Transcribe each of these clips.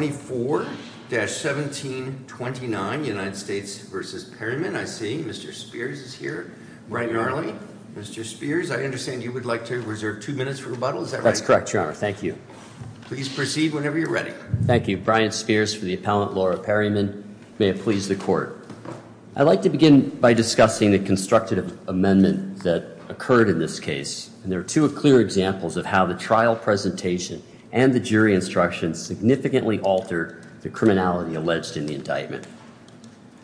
24-1729 United States v. Perryman. I see Mr. Spears is here right now. Mr. Spears, I understand you would like to reserve two minutes for rebuttal. Is that right? That's correct, your honor. Thank you. Please proceed whenever you're ready. Thank you. Brian Spears for the appellant, Laura Perryman. May it please the court. I'd like to begin by discussing the constructive amendment that occurred in this case. And there are two clear examples of how the trial presentation and the jury instructions significantly altered the criminality alleged in the indictment.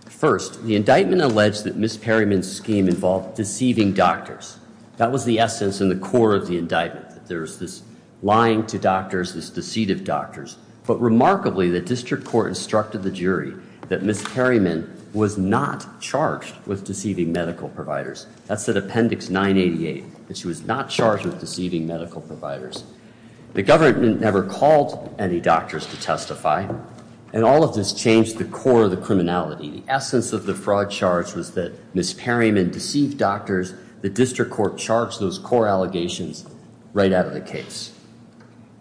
First, the indictment alleged that Ms. Perryman's scheme involved deceiving doctors. That was the essence and the core of the indictment. There was this lying to doctors, this deceit of doctors. But remarkably, the district court instructed the jury that Ms. Perryman was not charged with deceiving medical providers. That's at appendix 988, that she was not charged with deceiving medical providers. The government never called any doctors to testify. And all of this changed the core of the criminality. The essence of the fraud charge was that Ms. Perryman deceived doctors. The district court charged those core allegations right out of the case.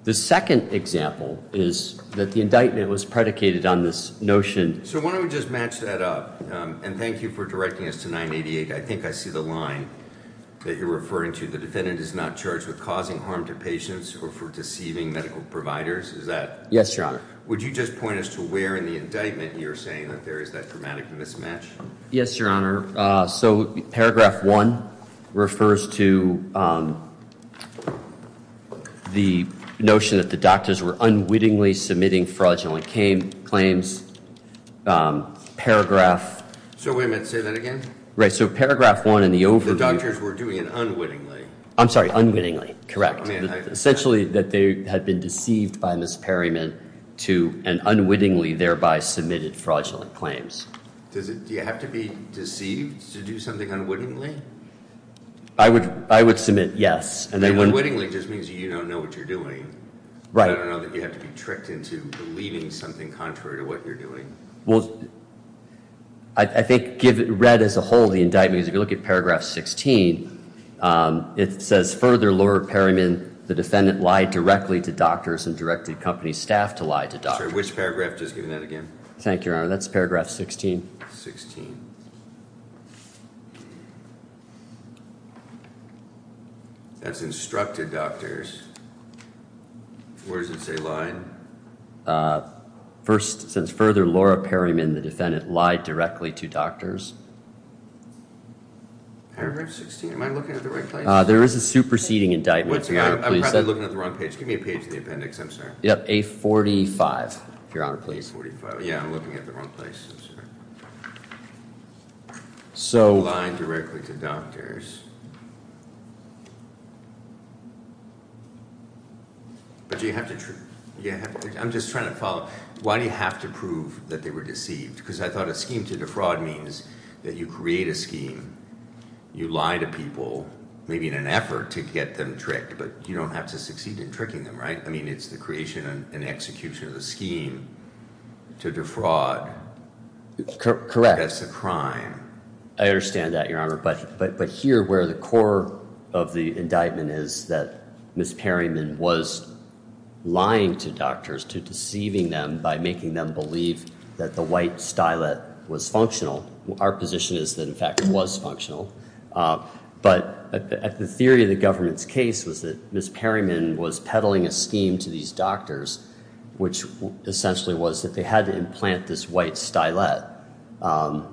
The second example is that the indictment was predicated on this notion. So why don't we just match that up? And thank you for directing us to 988. I think I see the line that you're referring to. The defendant is not charged with causing harm to patients or for deceiving medical providers. Is that? Yes, your honor. Would you just point us to where in the indictment you're saying that there is that dramatic mismatch? Yes, your honor. So paragraph one refers to the notion that the doctors were unwittingly submitting fraudulent claims. So wait a minute, say that again? Right, so paragraph one in the overview. The doctors were doing it unwittingly. I'm sorry, unwittingly, correct. Essentially that they had been deceived by Ms. Perryman and unwittingly thereby submitted fraudulent claims. Do you have to be deceived to do something unwittingly? I would submit yes. And then unwittingly just means you don't know what you're doing, right? I don't know that you have to be tricked into believing something contrary to what you're doing. Well, I think give it read as a whole the indictment. If you look at paragraph 16, it says further Lord Perryman, the defendant lied directly to doctors and directed company staff to lie to doctor. Which that's instructed doctors. Where does it say lying? First, since further Laura Perryman, the defendant lied directly to doctors. Paragraph 16, am I looking at the right place? There is a superseding indictment. I'm looking at the wrong page. Give me a page in the appendix, I'm sorry. Yep, 845, your honor, please. 845. Yeah, I'm looking at the wrong places. So, lying directly to doctors. But you have to, I'm just trying to follow. Why do you have to prove that they were deceived? Because I thought a scheme to defraud means that you create a scheme, you lie to people, maybe in an effort to get them tricked, but you don't have to succeed in tricking them, right? I mean, it's the creation and execution of the scheme. To defraud. Correct. That's a crime. I understand that, your honor. But here, where the core of the indictment is that Miss Perryman was lying to doctors to deceiving them by making them believe that the white stylet was functional. Our position is that, in fact, it was functional. But the theory of the government's case was that Miss Perryman was peddling a scheme to these doctors, which essentially was that they had to implant this white stylet,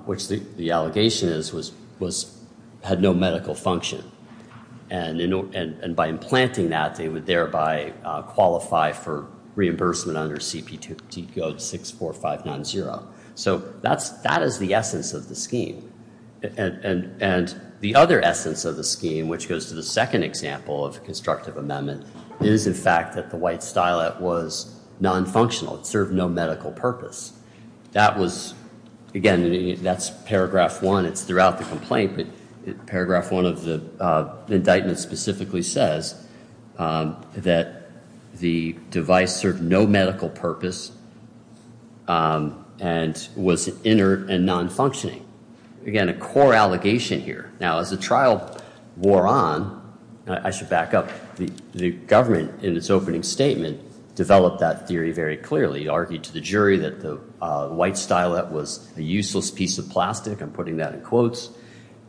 which the allegation is, had no medical function. And by implanting that, they would thereby qualify for reimbursement under CPT code 64590. So, that is the essence of the scheme. And the other essence of the scheme, which goes to the second example of constructive amendment, is, in fact, that the white stylet was non-functional. It served no medical purpose. That was, again, that's paragraph one. It's throughout the complaint, but paragraph one of the indictment specifically says that the device served no medical purpose and was inert and non-functioning. Again, a core allegation here. Now, as the trial wore on, I should back up, the government, in its opening statement, developed that theory very clearly. It argued to the jury that the white stylet was a useless piece of plastic. I'm putting that in quotes.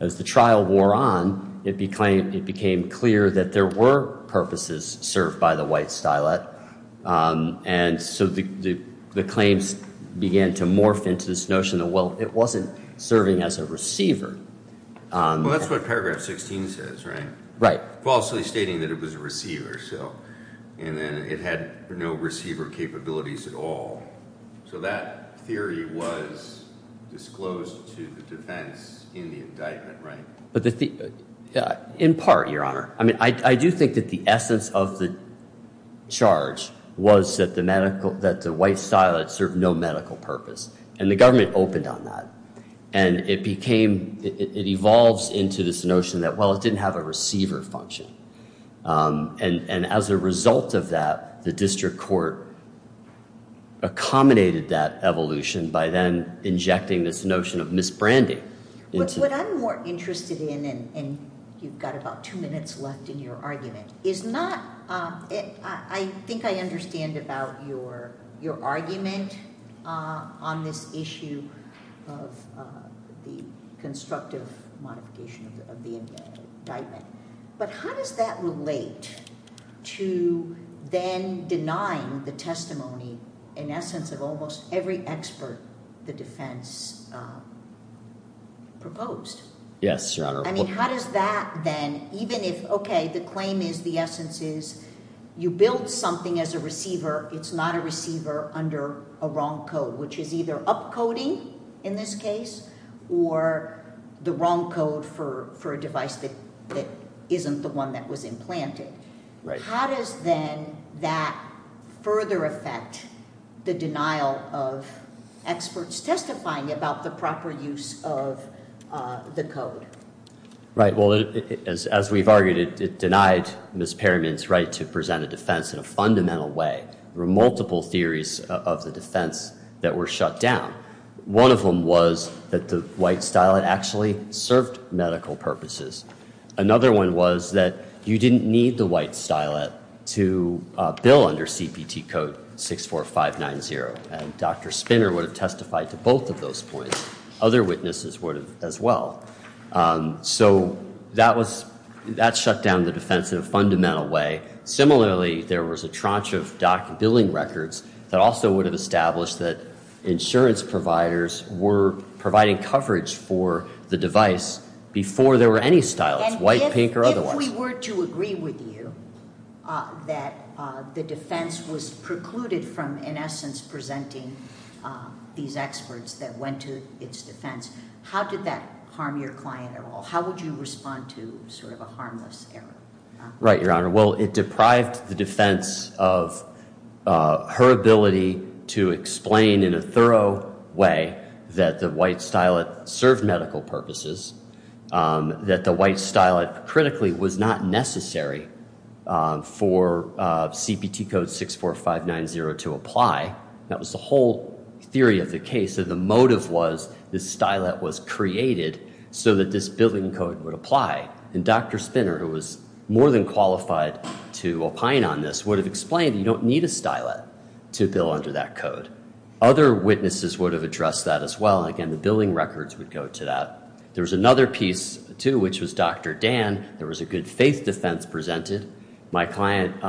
As the trial wore on, it became clear that there were purposes served by the white stylet. And so, the claims began to morph into this notion of, well, it wasn't serving as a receiver. Well, that's what paragraph 16 says, right? Right. Falsely stating that it was a receiver. And then it had no receiver capabilities at all. So, that theory was disclosed to the defense in the indictment, right? In part, Your Honor, I do think that the essence of the charge was that the white stylet served no medical purpose. And the government opened on that. And it evolved into this notion that, well, it didn't have a receiver function. And as a result of that, the district court accommodated that evolution by then injecting this notion of misbranding. What I'm more interested in, and you've got about two minutes left in your argument, is not, I think I understand about your argument on this issue of the constructive modification of the indictment. But how does that relate to then denying the testimony, in essence, of almost every expert the defense proposed? Yes, Your Honor. Right. Well, as we've argued, it denied Ms. Perryman's right to present a defense in a fundamental way. There were multiple theories of the defense that were shut down. One of them was that the white stylet actually served medical purposes. Another one was that you didn't need the white stylet to bill under CPT code 64590. And Dr. Spinner would have testified to both of those points. Other witnesses would have as well. So that shut down the defense in a fundamental way. Similarly, there was a tranche of dock billing records that also would have established that insurance providers were providing coverage for the device before there were any stylets, white, pink, or otherwise. If we were to agree with you that the defense was precluded from, in essence, presenting these experts that went to its defense, how did that harm your client at all? How would you respond to sort of a harmless error? Right, Your Honor. Well, it deprived the defense of her ability to explain in a thorough way that the white stylet served medical purposes, that the white stylet, critically, was not necessary for CPT code 64590 to apply. That was the whole theory of the case, that the motive was this stylet was created so that this billing code would apply. And Dr. Spinner, who was more than qualified to opine on this, would have explained that you don't need a stylet to bill under that code. Other witnesses would have addressed that as well. Again, the billing records would go to that. There was another piece, too, which was Dr. Dan. There was a good faith defense presented. My client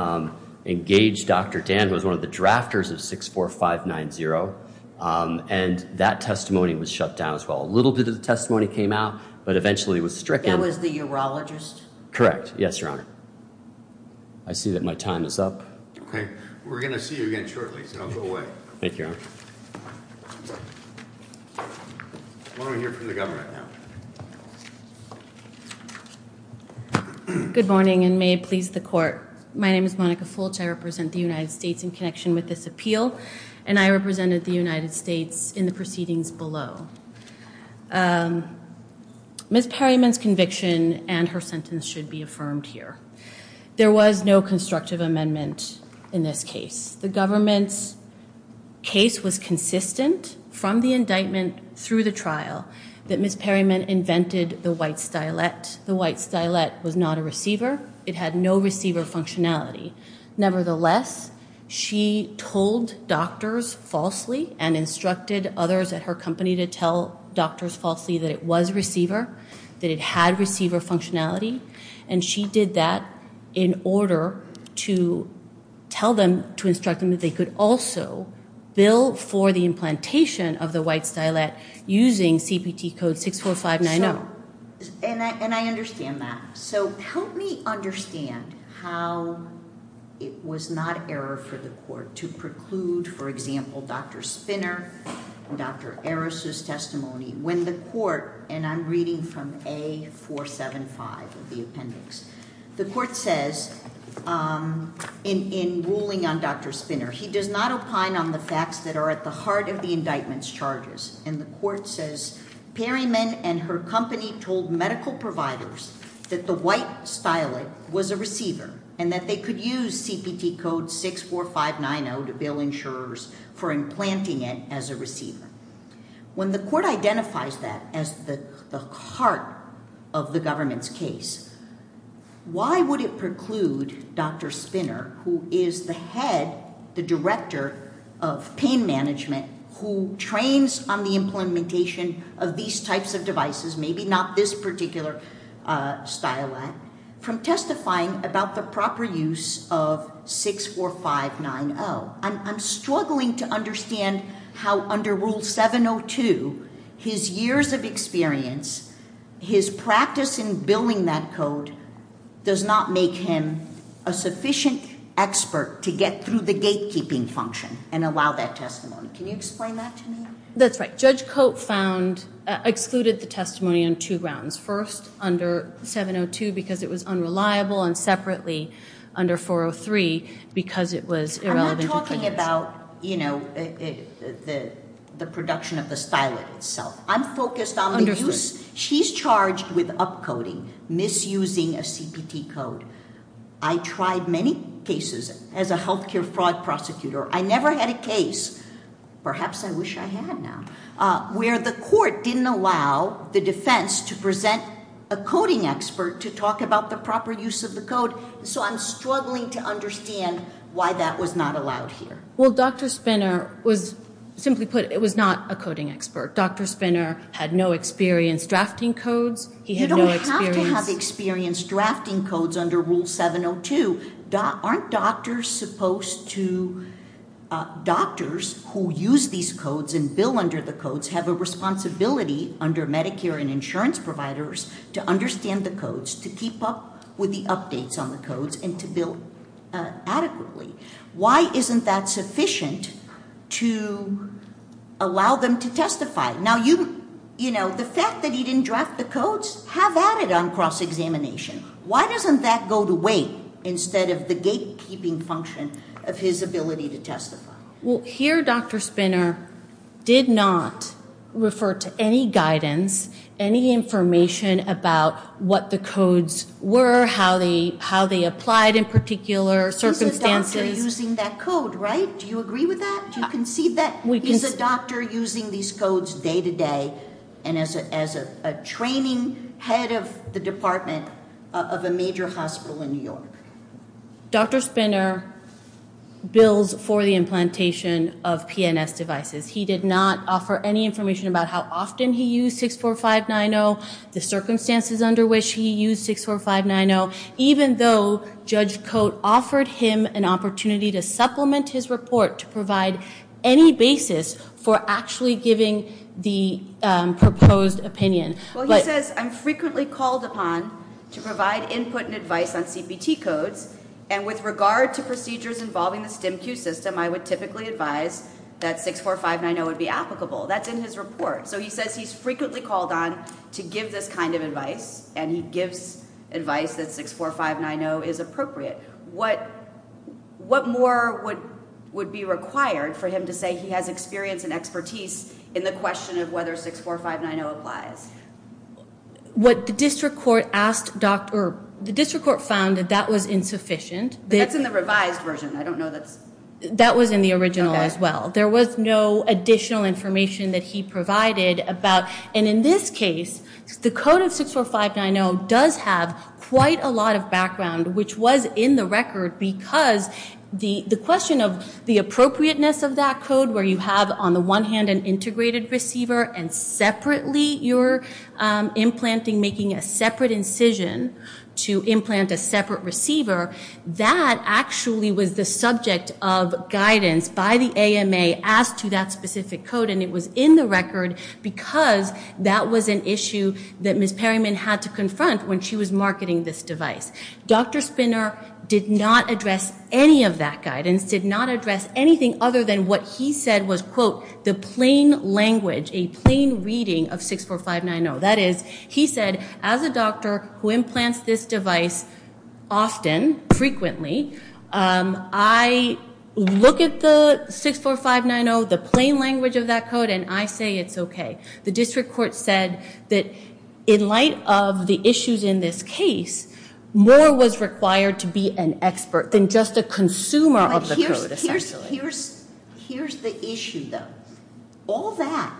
engaged Dr. Dan, who was one of the drafters of 64590, and that testimony was shut down as well. A little bit of the testimony came out, but eventually it was stricken. That was the urologist? Correct. Yes, Your Honor. I see that my time is up. Okay. We're going to see you again shortly, so go away. Thank you, Your Honor. Why don't we hear from the government now? Good morning, and may it please the Court. My name is Monica Fulch. I represent the United States in connection with this appeal, and I represented the United States in the proceedings below. Ms. Perryman's conviction and her sentence should be affirmed here. There was no constructive amendment in this case. The government's case was consistent from the indictment through the trial that Ms. Perryman invented the white stylet. The white stylet was not a receiver. It had no receiver functionality. Nevertheless, she told doctors falsely and instructed others at her company to tell doctors falsely that it was a receiver, that it had receiver functionality, and she did that in order to tell them, to instruct them that they could also bill for the implantation of the white stylet using CPT code 64590. And I understand that. So help me understand how it was not error for the Court to preclude, for example, Dr. Spinner and Dr. Eris' testimony when the Court, and I'm reading from A475 of the appendix, the Court says in ruling on Dr. Spinner, he does not opine on the facts that are at the heart of the indictment's charges, and the Court says Perryman and her company told medical providers that the white stylet was a receiver and that they could use CPT code 64590 to bill insurers for implanting it as a receiver. When the Court identifies that as the heart of the government's case, why would it preclude Dr. Spinner, who is the head, the director of pain management, who trains on the implementation of these types of devices, maybe not this particular stylet, from testifying about the proper use of 64590? I'm struggling to understand how under Rule 702, his years of experience, his practice in billing that code does not make him a sufficient expert to get through the gatekeeping function and allow that testimony. Can you explain that to me? That's right. Judge Cope found, excluded the testimony on two grounds. First, under 702 because it was unreliable, and separately under 403 because it was irrelevant. I'm not talking about the production of the stylet itself. I'm focused on the use. She's charged with upcoding, misusing a CPT code. I tried many cases as a health care fraud prosecutor. I never had a case, perhaps I wish I had now, where the Court didn't allow the defense to present a coding expert to talk about the proper use of the code. So I'm struggling to understand why that was not allowed here. Well, Dr. Spinner was, simply put, it was not a coding expert. Dr. Spinner had no experience drafting codes. You don't have to have experience drafting codes under Rule 702. Aren't doctors supposed to, doctors who use these codes and bill under the codes have a responsibility under Medicare and insurance providers to understand the codes, to keep up with the updates on the codes, and to bill adequately? Why isn't that sufficient to allow them to testify? Now, you know, the fact that he didn't draft the codes, have added on cross-examination. Why doesn't that go to wait instead of the gatekeeping function of his ability to testify? Well, here Dr. Spinner did not refer to any guidance, any information about what the codes were, how they applied in particular circumstances. He's a doctor using that code, right? Do you agree with that? Do you concede that? He's a doctor using these codes day-to-day and as a training head of the department of a major hospital in New York. Dr. Spinner bills for the implantation of PNS devices. He did not offer any information about how often he used 64590, the circumstances under which he used 64590, even though Judge Cote offered him an opportunity to supplement his report to provide any basis for actually giving the proposed opinion. Well, he says, I'm frequently called upon to provide input and advice on CPT codes, and with regard to procedures involving the STEMQ system, I would typically advise that 64590 would be applicable. That's in his report. So he says he's frequently called on to give this kind of advice, and he gives advice that 64590 is appropriate. What more would be required for him to say he has experience and expertise in the question of whether 64590 applies? The district court found that that was insufficient. That's in the revised version. I don't know that's... That was in the original as well. There was no additional information that he provided about, and in this case, the code of 64590 does have quite a lot of background, which was in the record because the question of the appropriateness of that code, where you have on the one hand an integrated receiver and separately you're implanting, making a separate incision to implant a separate receiver. That actually was the subject of guidance by the AMA as to that specific code, and it was in the record because that was an issue that Ms. Perryman had to confront when she was marketing this device. Dr. Spinner did not address any of that guidance, did not address anything other than what he said was, quote, the plain language, a plain reading of 64590. That is, he said, as a doctor who implants this device often, frequently, I look at the 64590, the plain language of that code, and I say it's okay. The district court said that in light of the issues in this case, more was required to be an expert than just a consumer of the code, essentially. Here's the issue, though. All that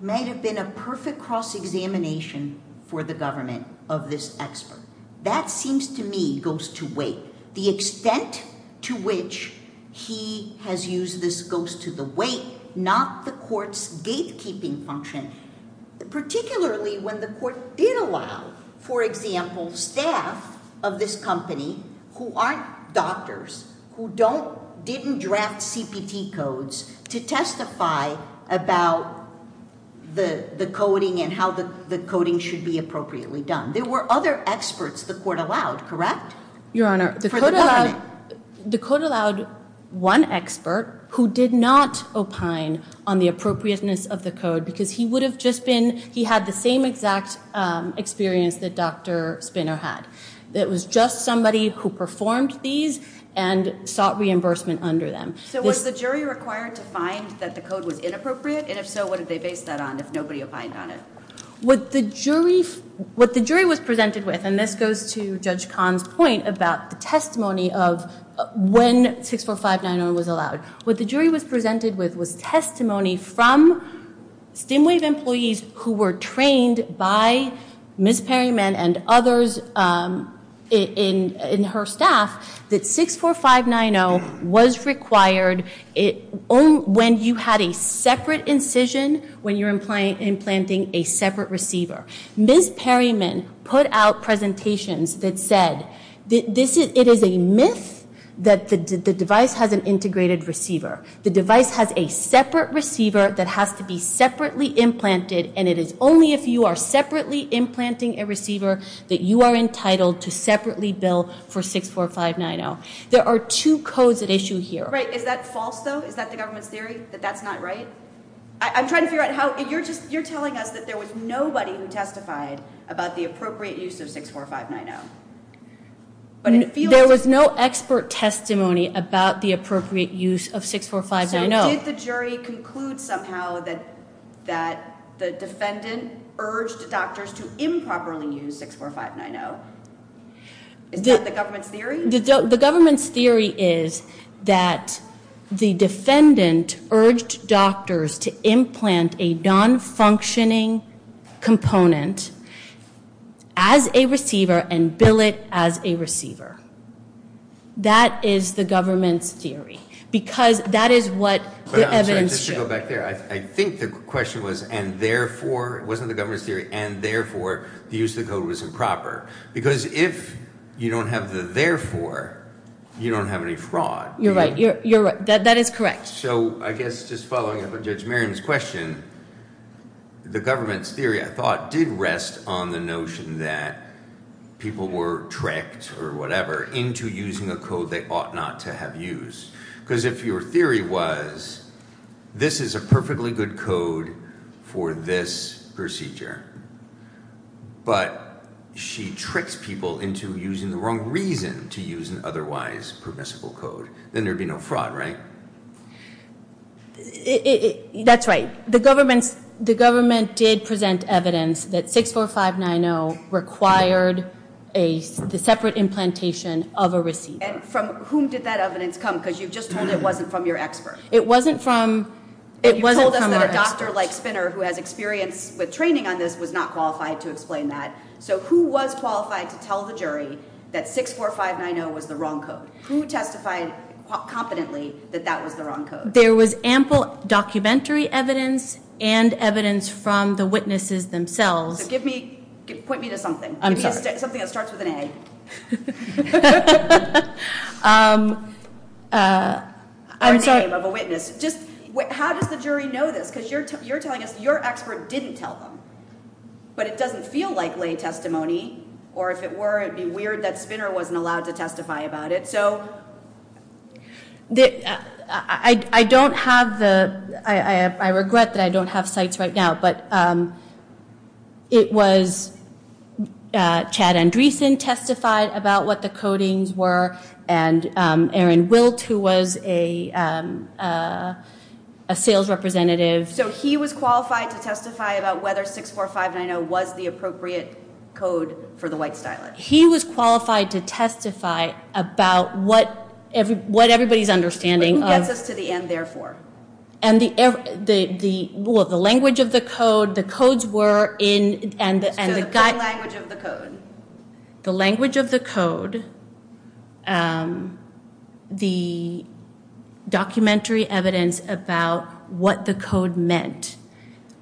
might have been a perfect cross-examination for the government of this expert. That seems to me goes to weight. The extent to which he has used this goes to the weight, not the court's gatekeeping function, particularly when the court did allow, for example, staff of this company who aren't doctors, who didn't draft CPT codes to testify about the coding and how the coding should be appropriately done. There were other experts the court allowed, correct? Your Honor, the court allowed one expert who did not opine on the appropriateness of the code because he had the same exact experience that Dr. Spinner had. It was just somebody who performed these and sought reimbursement under them. So was the jury required to find that the code was inappropriate? And if so, what did they base that on if nobody opined on it? What the jury was presented with, and this goes to Judge Kahn's point about the testimony of when 64590 was allowed, what the jury was presented with was testimony from StimWave employees who were trained by Ms. Perryman and others in her staff that 64590 was required when you had a separate incision when you're implanting a separate receiver. Ms. Perryman put out presentations that said it is a myth that the device has an integrated receiver. The device has a separate receiver that has to be separately implanted and it is only if you are separately implanting a receiver that you are entitled to separately bill for 64590. There are two codes at issue here. Great. Is that false though? Is that the government's theory that that's not right? I'm trying to figure out how, you're just, you're telling us that there was nobody who testified about the appropriate use of 64590. There was no expert testimony about the appropriate use of 64590. So did the jury conclude somehow that the defendant urged doctors to improperly use 64590? Is that the government's theory? The government's theory is that the defendant urged doctors to implant a non-functioning component as a receiver and bill it as a receiver. That is the government's theory because that is what the evidence showed. I think the question was and therefore, it wasn't the government's theory, and therefore the use of the code was improper. Because if you don't have the therefore, you don't have any fraud. You're right. You're right. That is correct. So I guess just following up on Judge Marion's question, the government's theory, I thought, did rest on the notion that people were tricked or whatever into using a code they ought not to have used. Because if your theory was, this is a perfectly good code for this procedure, but she tricks people into using the wrong reason to use an otherwise permissible code, then there'd be no fraud, right? That's right. The government did present evidence that 64590 required the separate implantation of a receiver. And from whom did that evidence come? Because you've just told it wasn't from your expert. It wasn't from our expert. You told us that a doctor like Spinner who has experience with training on this was not qualified to explain that. So who was qualified to tell the jury that 64590 was the wrong code? Who testified competently that that was the wrong code? There was ample documentary evidence and evidence from the witnesses themselves. Point me to something. Something that starts with an A. Or a name of a witness. How does the jury know this? Because you're telling us your expert didn't tell them. But it doesn't feel like lay testimony, or if it were, it would be weird that Spinner wasn't allowed to testify about it. I regret that I don't have cites right now, but it was Chad Andreessen testified about what the codings were, and Aaron Wilt, who was a sales representative. So he was qualified to testify about whether 64590 was the appropriate code for the white stylet. He was qualified to testify about what everybody's understanding. But who gets us to the end, therefore? Well, the language of the code, the codes were in. So the code language of the code. The language of the code, the documentary evidence about what the code meant,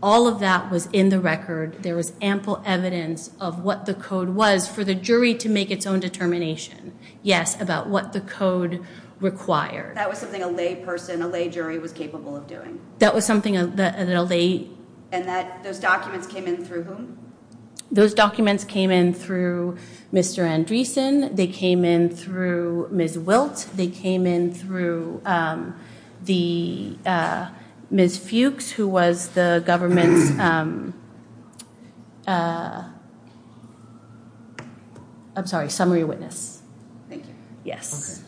all of that was in the record. There was ample evidence of what the code was for the jury to make its own determination. Yes, about what the code required. That was something a lay person, a lay jury was capable of doing. That was something that a lay... And those documents came in through whom? Those documents came in through Mr. Andreessen. They came in through Ms. Wilt. They came in through Ms. Fuchs, who was the government's... I'm sorry, summary witness. Thank you. Yes.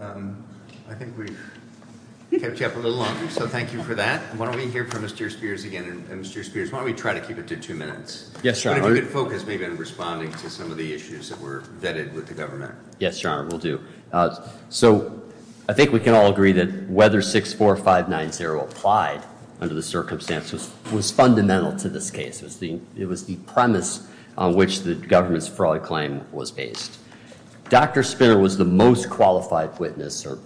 Okay. I think we've kept you up a little longer, so thank you for that. Why don't we hear from Mr. Spears again, and Mr. Spears, why don't we try to keep it to two minutes? Yes, Your Honor. Put a good focus maybe on responding to some of the issues that were vetted with the government. Yes, Your Honor, will do. So I think we can all agree that whether 64590 applied under the circumstances was fundamental to this case. It was the premise on which the government's fraud claim was based. Dr. Spinner was the most qualified witness or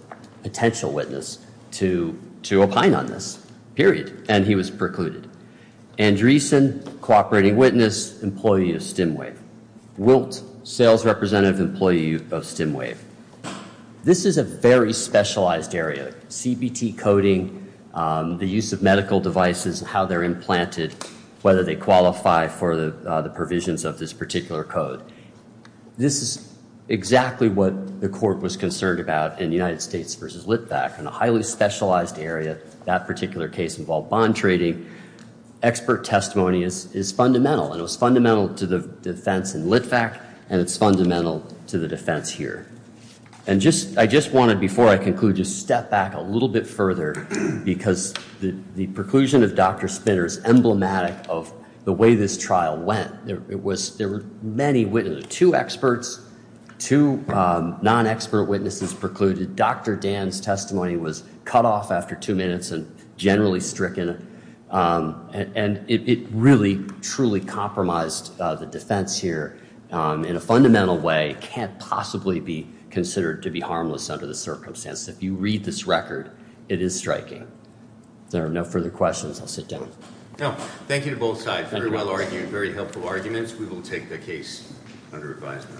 potential witness to opine on this, period, and he was precluded. Andreessen, cooperating witness, employee of Stimway. Wilt, sales representative employee of Stimway. This is a very specialized area. CBT coding, the use of medical devices, how they're implanted, whether they qualify for the provisions of this particular code. This is exactly what the court was concerned about in United States v. Litvak, in a highly specialized area, that particular case involved bond trading. Expert testimony is fundamental, and it was fundamental to the defense in Litvak, and it's fundamental to the defense here. And I just wanted, before I conclude, to step back a little bit further, because the preclusion of Dr. Spinner is emblematic of the way this trial went. There were many witnesses, two experts, two non-expert witnesses precluded. Dr. Dan's testimony was cut off after two minutes and generally stricken, and it really, truly compromised the defense here in a fundamental way. It can't possibly be considered to be harmless under the circumstances. If you read this record, it is striking. If there are no further questions, I'll sit down. No, thank you to both sides. Very well argued, very helpful arguments. We will take the case under advisement.